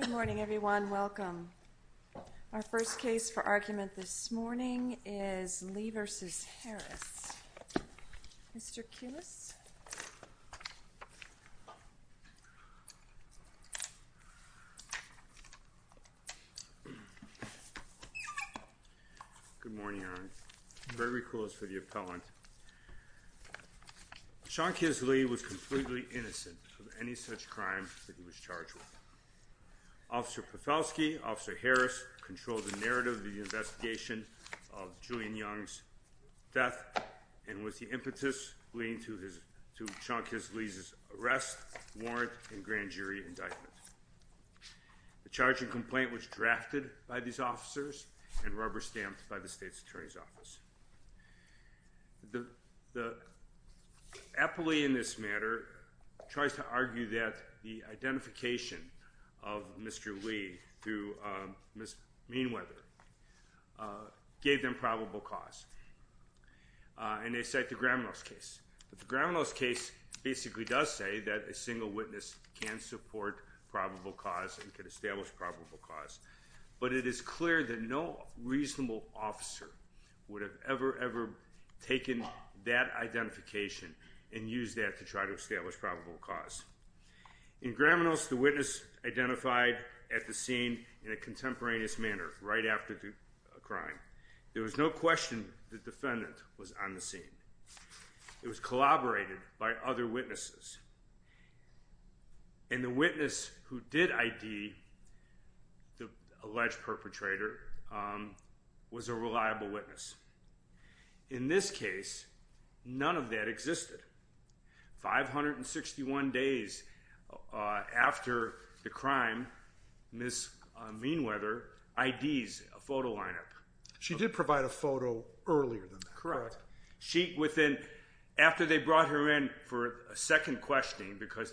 Good morning, everyone. Welcome. Our first case for argument this morning is Lee v. Harris. Mr. Kius? Good morning, Erin. Very cool as for the appellant. Sean Kius Lee was completely innocent of any such crime that he was charged with. Officer Profelski and Officer Harris controlled the narrative of the investigation of Julian Young's death and with the impetus leading to Sean Kius Lee's arrest, warrant, and grand jury indictment. The charging complaint was drafted by these officers and rubber-stamped by the state's attorney's office. The appellee in this matter tries to argue that the identification of Mr. Lee through Ms. Meanweather gave them probable cause, and they cite the Graminoff's case. But the Graminoff's case basically does say that a single witness can support probable cause and can establish probable cause. But it is clear that no reasonable officer would have ever, ever taken that identification and used that to try to establish probable cause. In Graminoff's, the witness identified at the scene in a contemporaneous manner right after the crime. There was no question the defendant was on the scene. It was collaborated by other witnesses. And the witness who did ID the alleged perpetrator was a reliable witness. In this case, none of that existed. 561 days after the crime, Ms. Meanweather IDs a photo lineup. She did provide a photo earlier than that. Correct. After they brought her in for a second questioning, because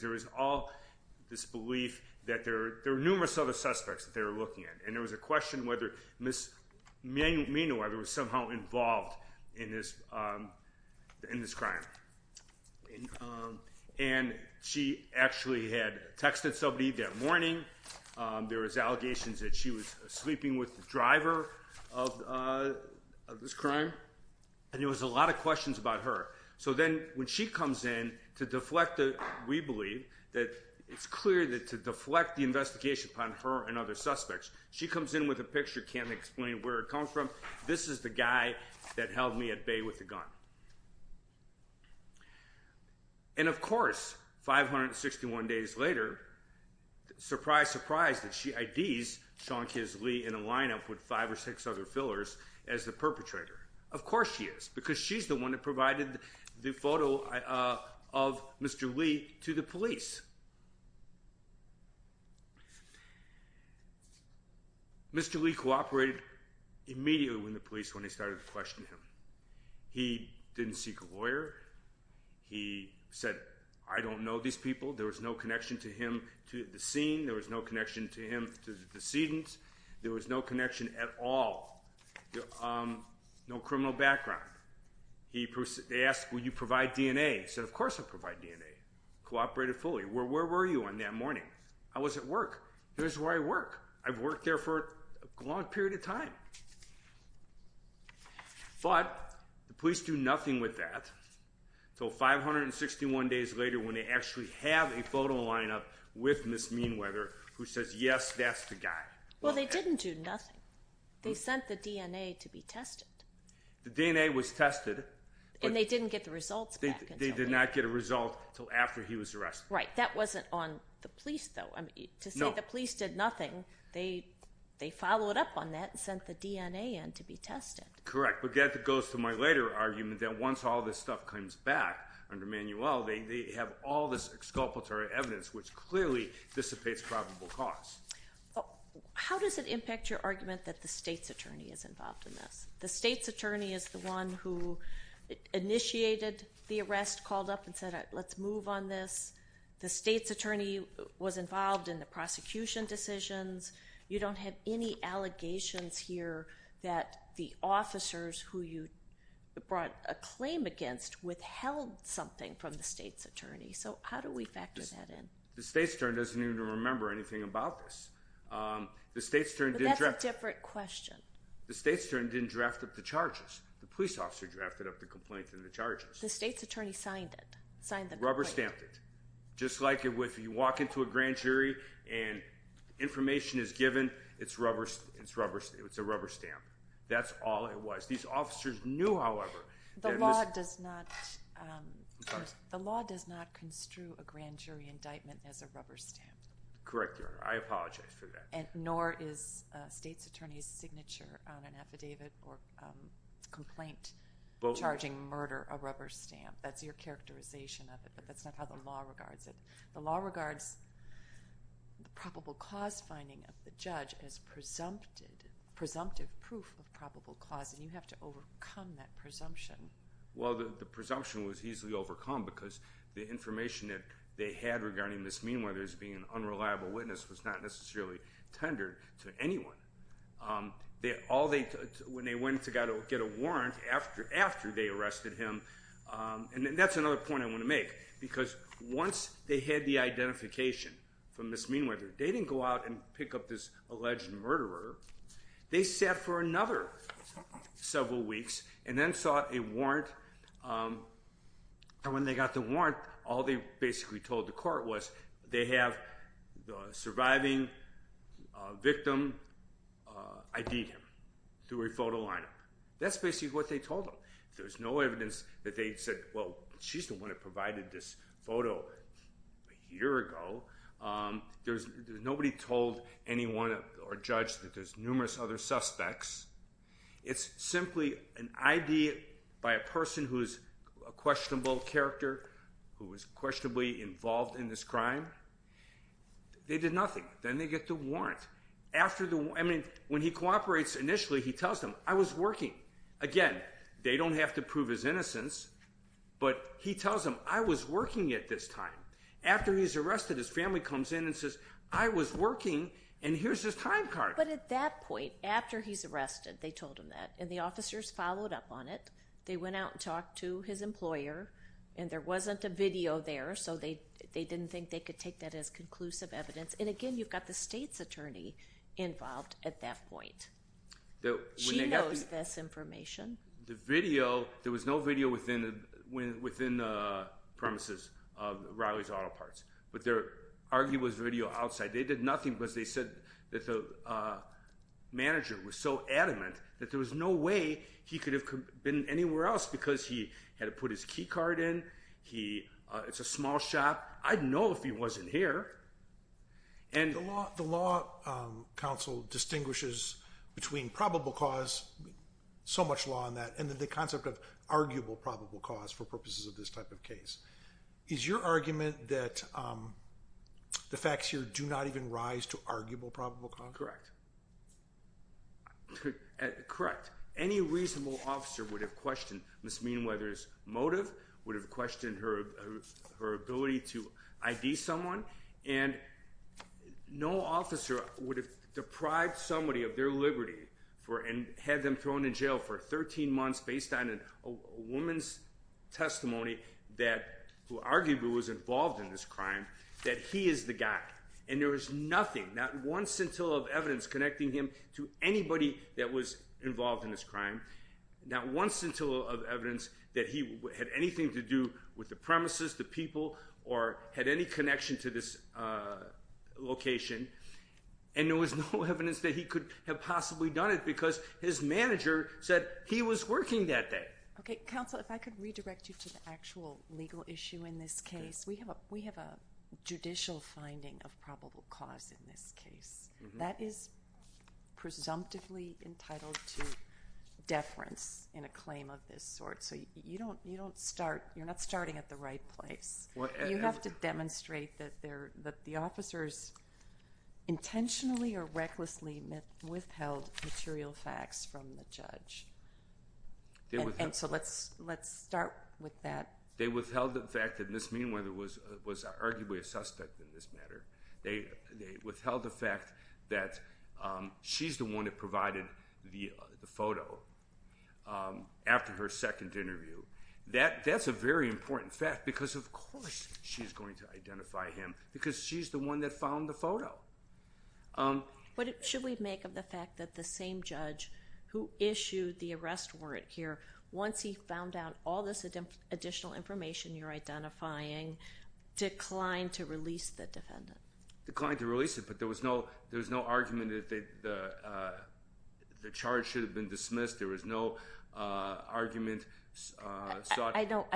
there was all this belief that there were numerous other suspects that they were looking at, and there was a question whether Ms. Meanweather was somehow involved in this crime. And she actually had texted somebody that morning. There was allegations that she was sleeping with the driver of this crime. And there was a lot of questions about her. So then when she comes in to deflect, we believe that it's clear that to deflect the investigation upon her and other suspects, she comes in with a picture, can't explain where it comes from. This is the guy that held me at bay with a gun. And of course, 561 days later, surprise, surprise, that she IDs Sean Kisly in a lineup with five or six other fillers as the perpetrator. Of course she is, because she's the one that provided the photo of Mr. Lee to the police. Mr. Lee cooperated immediately with the police when they started to question him. He didn't seek a lawyer. He said, I don't know these people. There was no connection to him, to the scene. There was no connection to him, to the decedents. There was no connection at all. No criminal background. They asked, will you provide DNA? He said, of course I'll provide DNA. Cooperated fully. Where were you on that morning? I was at work. Here's where I work. I've worked there for a long period of time. Well, the police do nothing with that until 561 days later when they actually have a photo lineup with Ms. Meanweather who says, yes, that's the guy. Well, they didn't do nothing. They sent the DNA to be tested. The DNA was tested. And they didn't get the results back until later. They did not get a result until after he was arrested. Right. That wasn't on the police, though. To say the police did nothing, they followed up on that and sent the DNA in to be tested. Correct. But that goes to my later argument that once all this stuff comes back under Manuel, they have all this exculpatory evidence, which clearly dissipates probable cause. How does it impact your argument that the state's attorney is involved in this? The state's attorney is the one who initiated the arrest, called up and said, let's move on this. The state's attorney was involved in the prosecution decisions. You don't have any allegations here that the officers who you brought a claim against withheld something from the state's attorney. So how do we factor that in? The state's attorney doesn't even remember anything about this. But that's a different question. The state's attorney didn't draft up the charges. The police officer drafted up the complaint and the charges. The state's attorney signed it, signed the complaint. Rubber stamped it. Just like if you walk into a grand jury and information is given, it's a rubber stamp. That's all it was. These officers knew, however. The law does not construe a grand jury indictment as a rubber stamp. Correct, Your Honor. I apologize for that. Nor is a state's attorney's signature on an affidavit or complaint charging murder a rubber stamp. That's your characterization of it, but that's not how the law regards it. The law regards probable cause finding of the judge as presumptive proof of probable cause, and you have to overcome that presumption. Well, the presumption was easily overcome because the information that they had regarding Ms. Meanweather as being an unreliable witness was not necessarily tendered to anyone. When they went to get a warrant after they arrested him, and that's another point I want to make, because once they had the identification from Ms. Meanweather, they didn't go out and pick up this alleged murderer. They sat for another several weeks and then sought a warrant. And when they got the warrant, all they basically told the court was they have the surviving victim ID'd him through a photo lineup. That's basically what they told them. There's no evidence that they said, well, she's the one that provided this photo a year ago. Nobody told anyone or judged that there's numerous other suspects. It's simply an ID by a person who's a questionable character, who was questionably involved in this crime. They did nothing. Then they get the warrant. I mean, when he cooperates initially, he tells them, I was working. Again, they don't have to prove his innocence, but he tells them, I was working at this time. After he's arrested, his family comes in and says, I was working, and here's his time card. But at that point, after he's arrested, they told him that, and the officers followed up on it. They went out and talked to his employer, and there wasn't a video there, so they didn't think they could take that as conclusive evidence. And again, you've got the state's attorney involved at that point. She knows this information. The video, there was no video within the premises of Riley's Auto Parts. But their argument was video outside. They did nothing because they said that the manager was so adamant that there was no way he could have been anywhere else because he had to put his key card in. It's a small shop. I'd know if he wasn't here. The law counsel distinguishes between probable cause, so much law on that, and then the concept of arguable probable cause for purposes of this type of case. Is your argument that the facts here do not even rise to arguable probable cause? Correct. Any reasonable officer would have questioned Ms. Meanweather's motive, would have questioned her ability to ID someone, and no officer would have deprived somebody of their liberty and had them thrown in jail for 13 months based on a woman's testimony who arguably was involved in this crime, that he is the guy. And there was nothing, not once until of evidence connecting him to anybody that was involved in this crime, not once until of evidence that he had anything to do with the premises, the people, or had any connection to this location. And there was no evidence that he could have possibly done it because his manager said he was working that day. Okay, counsel, if I could redirect you to the actual legal issue in this case. We have a judicial finding of probable cause in this case. That is presumptively entitled to deference in a claim of this sort. So you don't start, you're not starting at the right place. You have to demonstrate that the officers intentionally or recklessly withheld material facts from the judge. And so let's start with that. They withheld the fact that Ms. Meanweather was arguably a suspect in this matter. They withheld the fact that she's the one that provided the photo after her second interview. That's a very important fact because, of course, she's going to identify him because she's the one that found the photo. What should we make of the fact that the same judge who issued the arrest warrant here, once he found out all this additional information you're identifying, declined to release the defendant? Declined to release him, but there was no argument that the charge should have been dismissed. There was no argument sought. I know.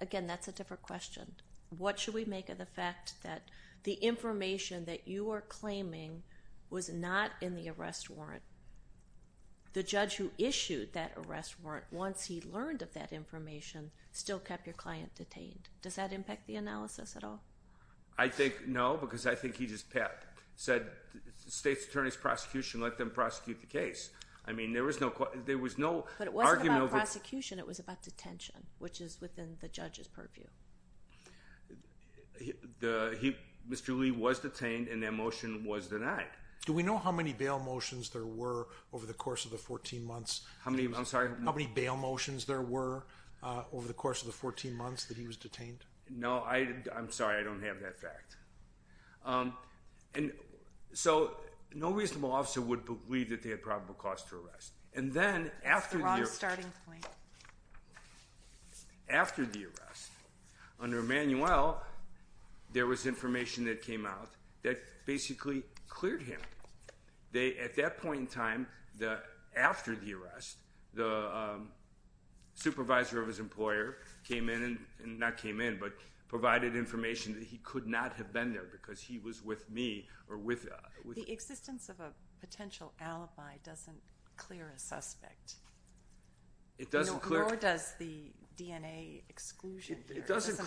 Again, that's a different question. What should we make of the fact that the information that you are claiming was not in the arrest warrant? The judge who issued that arrest warrant, once he learned of that information, still kept your client detained. Does that impact the analysis at all? I think no because I think he just said the state's attorney's prosecution let them prosecute the case. But it wasn't about prosecution. It was about detention, which is within the judge's purview. Mr. Lee was detained and their motion was denied. Do we know how many bail motions there were over the course of the 14 months that he was detained? No. I'm sorry. I don't have that fact. And so no reasonable officer would believe that they had probable cause to arrest. And then after the arrest, under Emanuel, there was information that came out that basically cleared him. At that point in time, after the arrest, the supervisor of his employer came in, not came in, but provided information that he could not have been there because he was with me. The existence of a potential alibi doesn't clear a suspect. Nor does the DNA exclusion. It doesn't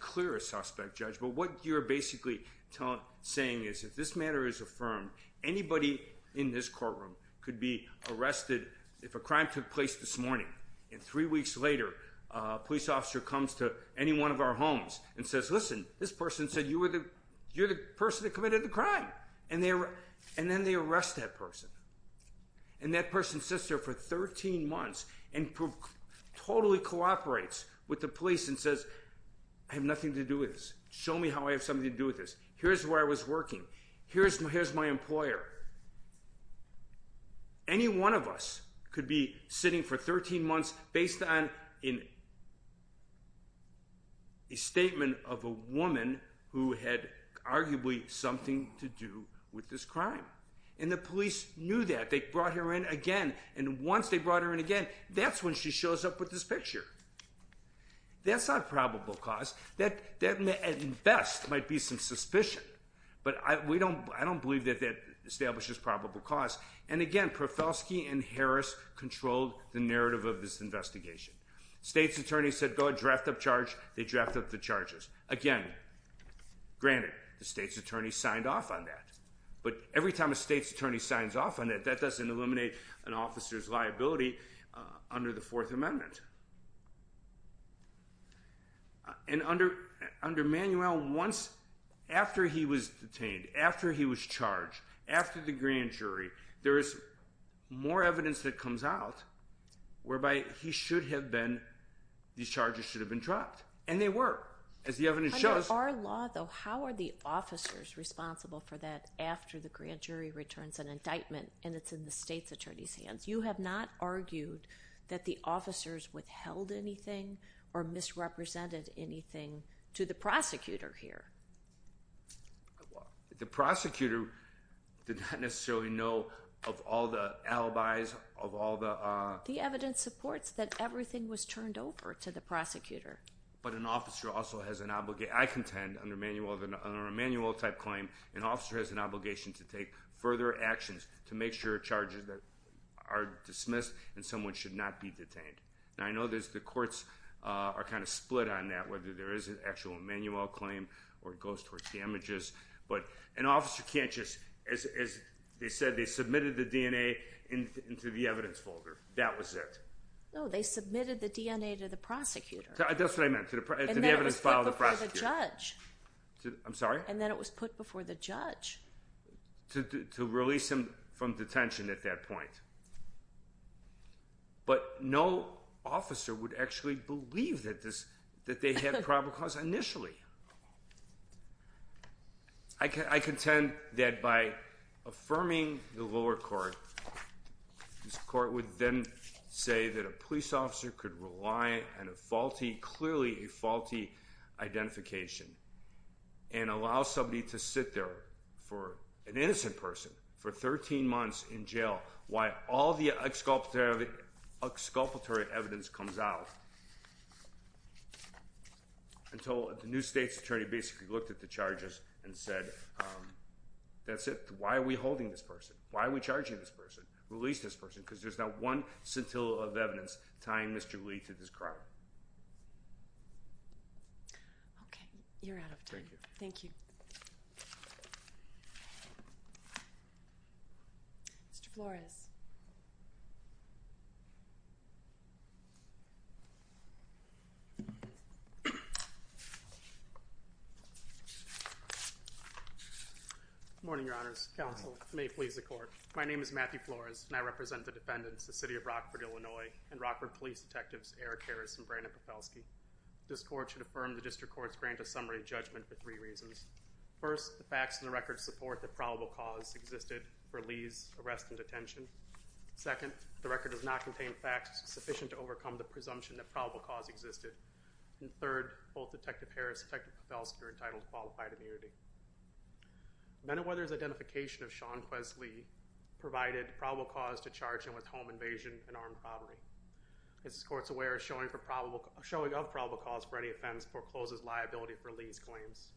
clear a suspect, Judge. But what you're basically saying is if this matter is affirmed, anybody in this courtroom could be arrested. If a crime took place this morning and three weeks later, a police officer comes to any one of our homes and says, listen, this person said you're the person that committed the crime. And then they arrest that person. And that person sits there for 13 months and totally cooperates with the police and says, I have nothing to do with this. Show me how I have something to do with this. Here's where I was working. Here's my employer. Any one of us could be sitting for 13 months based on a statement of a woman who had arguably something to do with this crime. And the police knew that. They brought her in again. And once they brought her in again, that's when she shows up with this picture. That's not probable cause. That at best might be some suspicion. But I don't believe that that establishes probable cause. And again, Profelsky and Harris controlled the narrative of this investigation. State's attorney said go ahead, draft up charge. They draft up the charges. Again, granted, the state's attorney signed off on that. But every time a state's attorney signs off on that, that doesn't eliminate an officer's liability under the Fourth Amendment. And under Manuel, once after he was detained, after he was charged, after the grand jury, there is more evidence that comes out whereby he should have been, these charges should have been dropped. And they were, as the evidence shows. Under our law, though, how are the officers responsible for that after the grand jury returns an indictment and it's in the state's attorney's hands? You have not argued that the officers withheld anything or misrepresented anything to the prosecutor here. The prosecutor did not necessarily know of all the alibis, of all the... The evidence supports that everything was turned over to the prosecutor. But an officer also has an obligation... I contend, under a Manuel-type claim, an officer has an obligation to take further actions to make sure charges are dismissed and someone should not be detained. Now, I know the courts are kind of split on that, whether there is an actual Manuel claim or it goes towards damages. But an officer can't just... As they said, they submitted the DNA into the evidence folder. That was it. No, they submitted the DNA to the prosecutor. That's what I meant, to the evidence file of the prosecutor. And then it was put before the judge. I'm sorry? And then it was put before the judge. To release him from detention at that point. But no officer would actually believe that they had probable cause initially. I contend that by affirming the lower court, this court would then say that a police officer could rely on a faulty, clearly a faulty, identification. And allow somebody to sit there, an innocent person, for 13 months in jail while all the exculpatory evidence comes out. Until the new state's attorney basically looked at the charges and said, that's it. Why are we holding this person? Why are we charging this person? Release this person. Because there's not one scintilla of evidence tying Mr. Lee to this crime. Okay, you're out of time. Mr. Flores. Good morning, Your Honors. Counsel, may it please the court. My name is Matthew Flores, and I represent the defendants, the City of Rockford, Illinois, and Rockford Police Detectives Eric Harris and Brandon Pafelsky. This court should affirm the district court's grant of summary judgment for three reasons. First, the facts in the record support that probable cause existed for Lee's arrest and detention. Second, the record does not contain facts sufficient to overcome the presumption that probable cause existed. And third, both Detective Harris and Detective Pafelsky are entitled to qualified immunity. Men at Weather's identification of Sean Quest Lee provided probable cause to charge him with home invasion and armed robbery. As this court's aware, showing of probable cause for any offense forecloses liability for Lee's claims.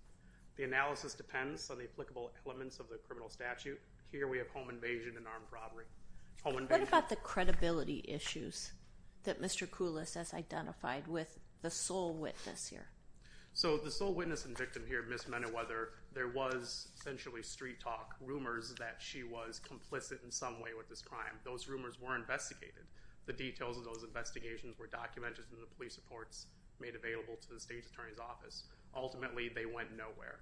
The analysis depends on the applicable elements of the criminal statute. Here we have home invasion and armed robbery. Home invasion. What about the credibility issues that Mr. Koulis has identified with the sole witness here? So, the sole witness and victim here, Ms. Men at Weather, there was essentially street talk, rumors that she was complicit in some way with this crime. Those rumors were investigated. The details of those investigations were documented in the police reports made available to the State's Attorney's Office. Ultimately, they went nowhere.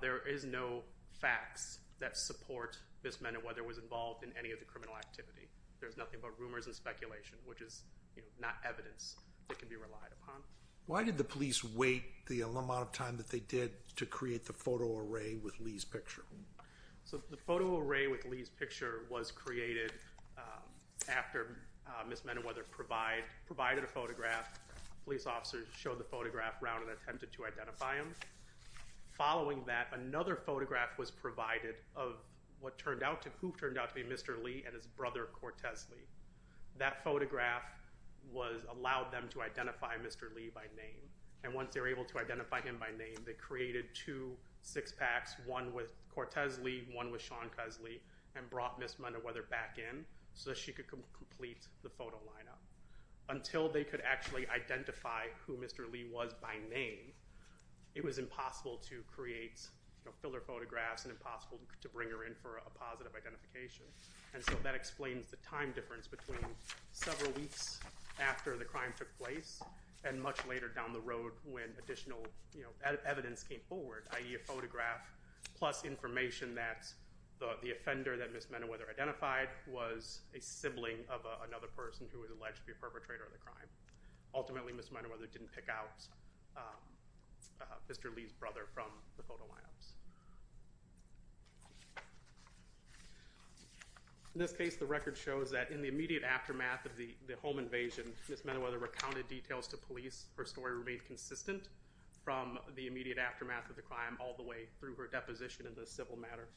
There is no facts that support Ms. Men at Weather was involved in any of the criminal activity. There's nothing but rumors and speculation, which is not evidence that can be relied upon. Why did the police wait the amount of time that they did to create the photo array with Lee's picture? So, the photo array with Lee's picture was created after Ms. Men at Weather provided a photograph. Police officers showed the photograph around and attempted to identify him. Following that, another photograph was provided of what turned out to be Mr. Lee and his brother, Cortez Lee. That photograph allowed them to identify Mr. Lee by name. And once they were able to identify him by name, they created two six-packs, one with Cortez Lee, one with Sean Kesley, and brought Ms. Men at Weather back in so that she could complete the photo lineup. Until they could actually identify who Mr. Lee was by name, it was impossible to create filler photographs and impossible to bring her in for a positive identification. And so that explains the time difference between several weeks after the crime took place and much later down the road when additional evidence came forward, i.e. a photograph plus information that the offender that Ms. Men at Weather identified was a sibling of another person who was alleged to be a perpetrator of the crime. Ultimately, Ms. Men at Weather didn't pick out Mr. Lee's brother from the photo lineups. In this case, the record shows that in the immediate aftermath of the home invasion, Ms. Men at Weather recounted details to police. Her story remained consistent from the immediate aftermath of the crime all the way through her deposition in the civil matter.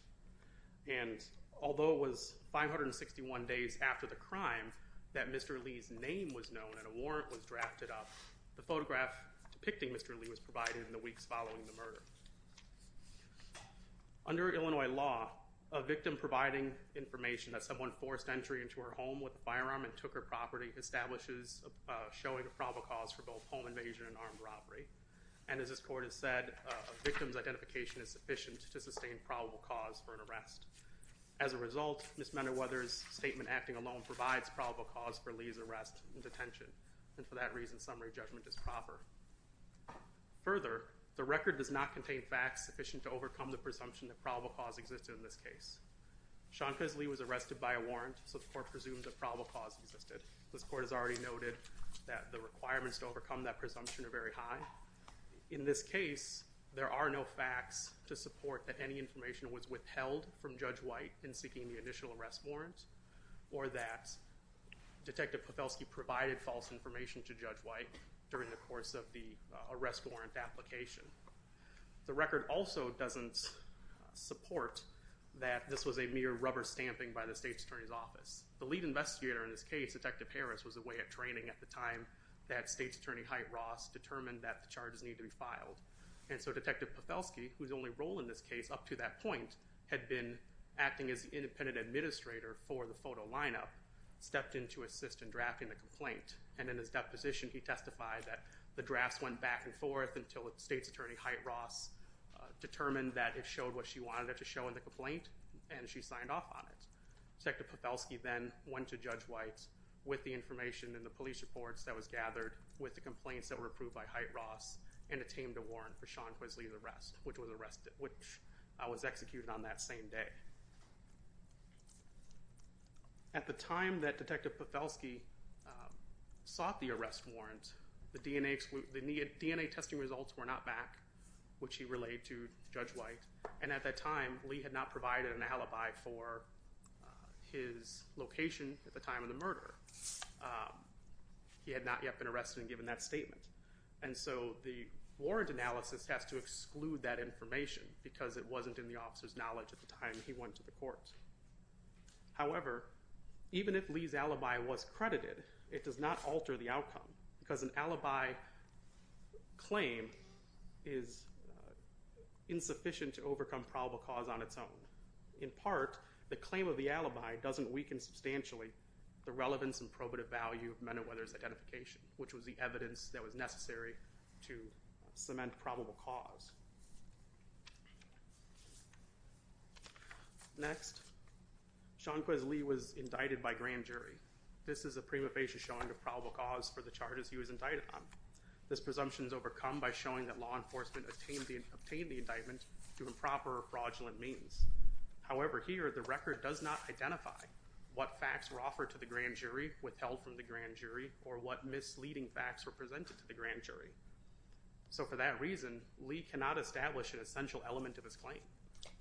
And although it was 561 days after the crime that Mr. Lee's name was known and a warrant was drafted up, the photograph depicting Mr. Lee was provided in the weeks following the murder. Under Illinois law, a victim providing information that someone forced entry into her home with a firearm and took her property establishes a showing of probable cause for both home invasion and armed robbery. And as this court has said, a victim's identification is sufficient to sustain probable cause for an arrest. As a result, Ms. Men at Weather's statement acting alone provides probable cause for Lee's arrest and detention. And for that reason, summary judgment is proper. Further, the record does not contain facts sufficient to overcome the presumption that probable cause existed in this case. Sean Kisly was arrested by a warrant, so the court presumes that probable cause existed. This court has already noted that the requirements to overcome that presumption are very high. In this case, there are no facts to support that any information was withheld from Judge White in seeking the initial arrest warrant or that Detective Pafelski provided false information to Judge White during the course of the arrest warrant application. The record also doesn't support that this was a mere rubber stamping by the State's Attorney's Office. The lead investigator in this case, Detective Harris, was away at training at the time that State's Attorney Heit-Ross determined that the charges needed to be filed. And so Detective Pafelski, whose only role in this case up to that point had been acting as the independent administrator for the photo lineup, stepped in to assist in drafting the complaint. And in his deposition, he testified that the drafts went back and forth until State's Attorney Heit-Ross determined that it showed what she wanted it to show in the complaint and she signed off on it. Detective Pafelski then went to Judge White with the information in the police reports that was gathered with the complaints that were approved by Heit-Ross and attained a warrant for Sean Quisley's arrest, which was executed on that same day. At the time that Detective Pafelski sought the arrest warrant, the DNA testing results were not back, which he relayed to Judge White. And at that time, Lee had not provided an alibi for his location at the time of the murder. He had not yet been arrested and given that statement. And so the warrant analysis has to exclude that information because it wasn't in the officer's knowledge at the time he went to the court. However, even if Lee's alibi was credited, it does not alter the outcome because an alibi claim is insufficient to overcome probable cause on its own. In part, the claim of the alibi doesn't weaken substantially the relevance and probative value of Men at Weather's identification, which was the evidence that was necessary to cement probable cause. Next, Sean Quisley was indicted by grand jury. This is a prima facie showing of probable cause for the charges he was indicted on. This presumption is overcome by showing that law enforcement obtained the indictment through improper or fraudulent means. However, here, the record does not identify what facts were offered to the grand jury, withheld from the grand jury, or what misleading facts were presented to the grand jury. So for that reason, Lee cannot establish an essential element of his claim.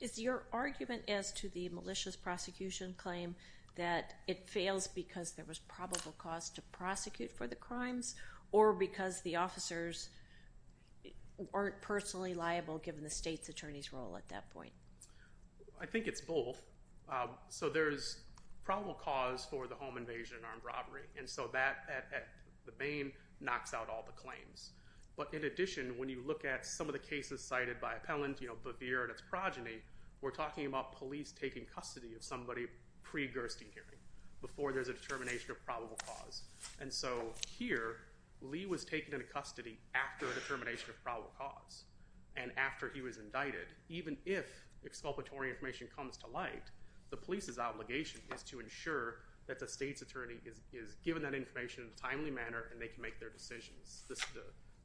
Is your argument as to the malicious prosecution claim that it fails because there was probable cause to prosecute for the crimes or because the officers aren't personally liable, given the state's attorney's role at that point? I think it's both. So there's probable cause for the home invasion and armed robbery, and so that, at the main, knocks out all the claims. But in addition, when you look at some of the cases cited by Appellant Bevere and its progeny, we're talking about police taking custody of somebody pre-Gerstin hearing, before there's a determination of probable cause. And so here, Lee was taken into custody after a determination of probable cause, and after he was indicted. Even if exculpatory information comes to light, the police's obligation is to ensure that the state's attorney is given that information in a timely manner and they can make their decisions.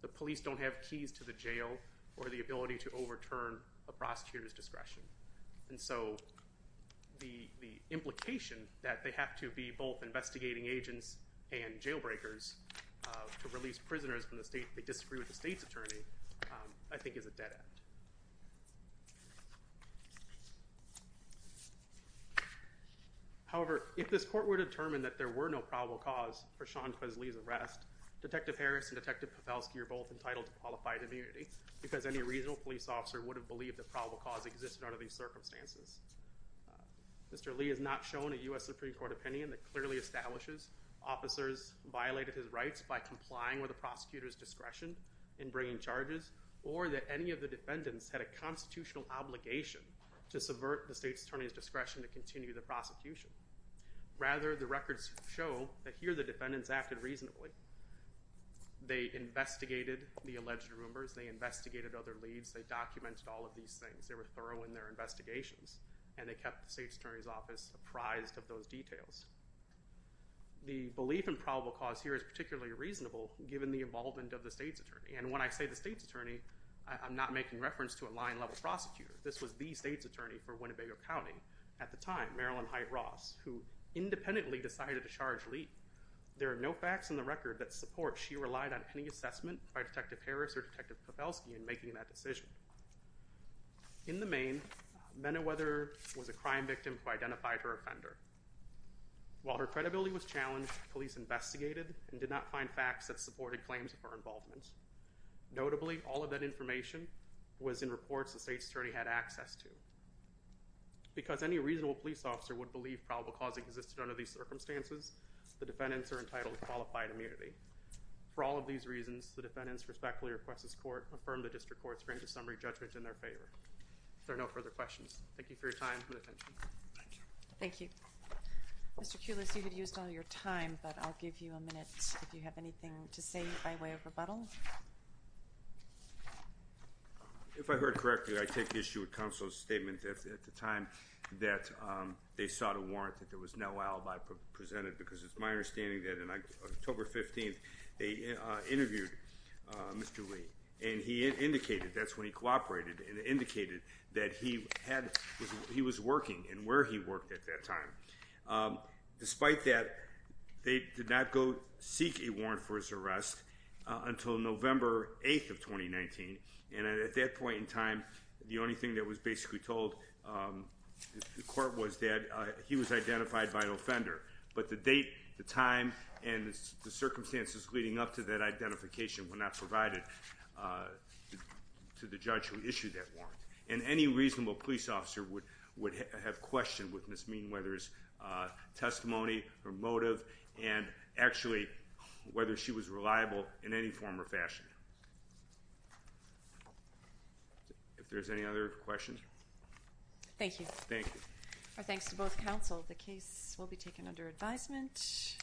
The police don't have keys to the jail or the ability to overturn a prosecutor's discretion. And so the implication that they have to be both investigating agents and jailbreakers to release prisoners when they disagree with the state's attorney, I think, is a dead end. However, if this court were to determine that there were no probable cause for Sean Quesley's arrest, Detective Harris and Detective Papowski are both entitled to qualified immunity because any reasonable police officer would have believed that probable cause existed under these circumstances. Mr. Lee has not shown a U.S. Supreme Court opinion that clearly establishes officers violated his rights by complying with a prosecutor's discretion in bringing charges or that any of the defendants had a constitutional obligation to subvert the state's attorney's discretion to continue the prosecution. Rather, the records show that here the defendants acted reasonably. They investigated the alleged rumors. They investigated other leads. They documented all of these things. They were thorough in their investigations. And they kept the state's attorney's office apprised of those details. The belief in probable cause here is particularly reasonable given the involvement of the state's attorney. And when I say the state's attorney, I'm not making reference to a line-level prosecutor. This was the state's attorney for Winnebago County at the time, Marilyn Height Ross, who independently decided to charge Lee. There are no facts in the record that support she relied on any assessment by Detective Harris or Detective Kowalski in making that decision. In the main, Mena Weather was a crime victim who identified her offender. While her credibility was challenged, police investigated and did not find facts that supported claims of her involvement. Notably, all of that information was in reports the state's attorney had access to. Because any reasonable police officer would believe probable cause existed under these circumstances, the defendants are entitled to qualified immunity. For all of these reasons, the defendants respectfully request this court affirm the district court's range of summary judgment in their favor. If there are no further questions, thank you for your time and attention. Thank you. Mr. Kulas, you had used all your time, but I'll give you a minute if you have anything to say by way of rebuttal. If I heard correctly, I take issue with counsel's statement at the time that they sought a warrant, that there was no alibi presented because it's my understanding that on October 15th, they interviewed Mr. Lee. And he indicated, that's when he cooperated, and indicated that he was working and where he worked at that time. Despite that, they did not go seek a warrant for his arrest until November 8th of 2019, and at that point in time, the only thing that was basically told the court was that he was identified by an offender. But the date, the time, and the circumstances leading up to that identification were not provided to the judge who issued that warrant. And any reasonable police officer would have questioned with Ms. Meanweather's testimony, her motive, and actually whether she was reliable in any form or fashion. If there's any other questions? Thank you. Thank you. Our thanks to both counsel. The case will be taken under advisement.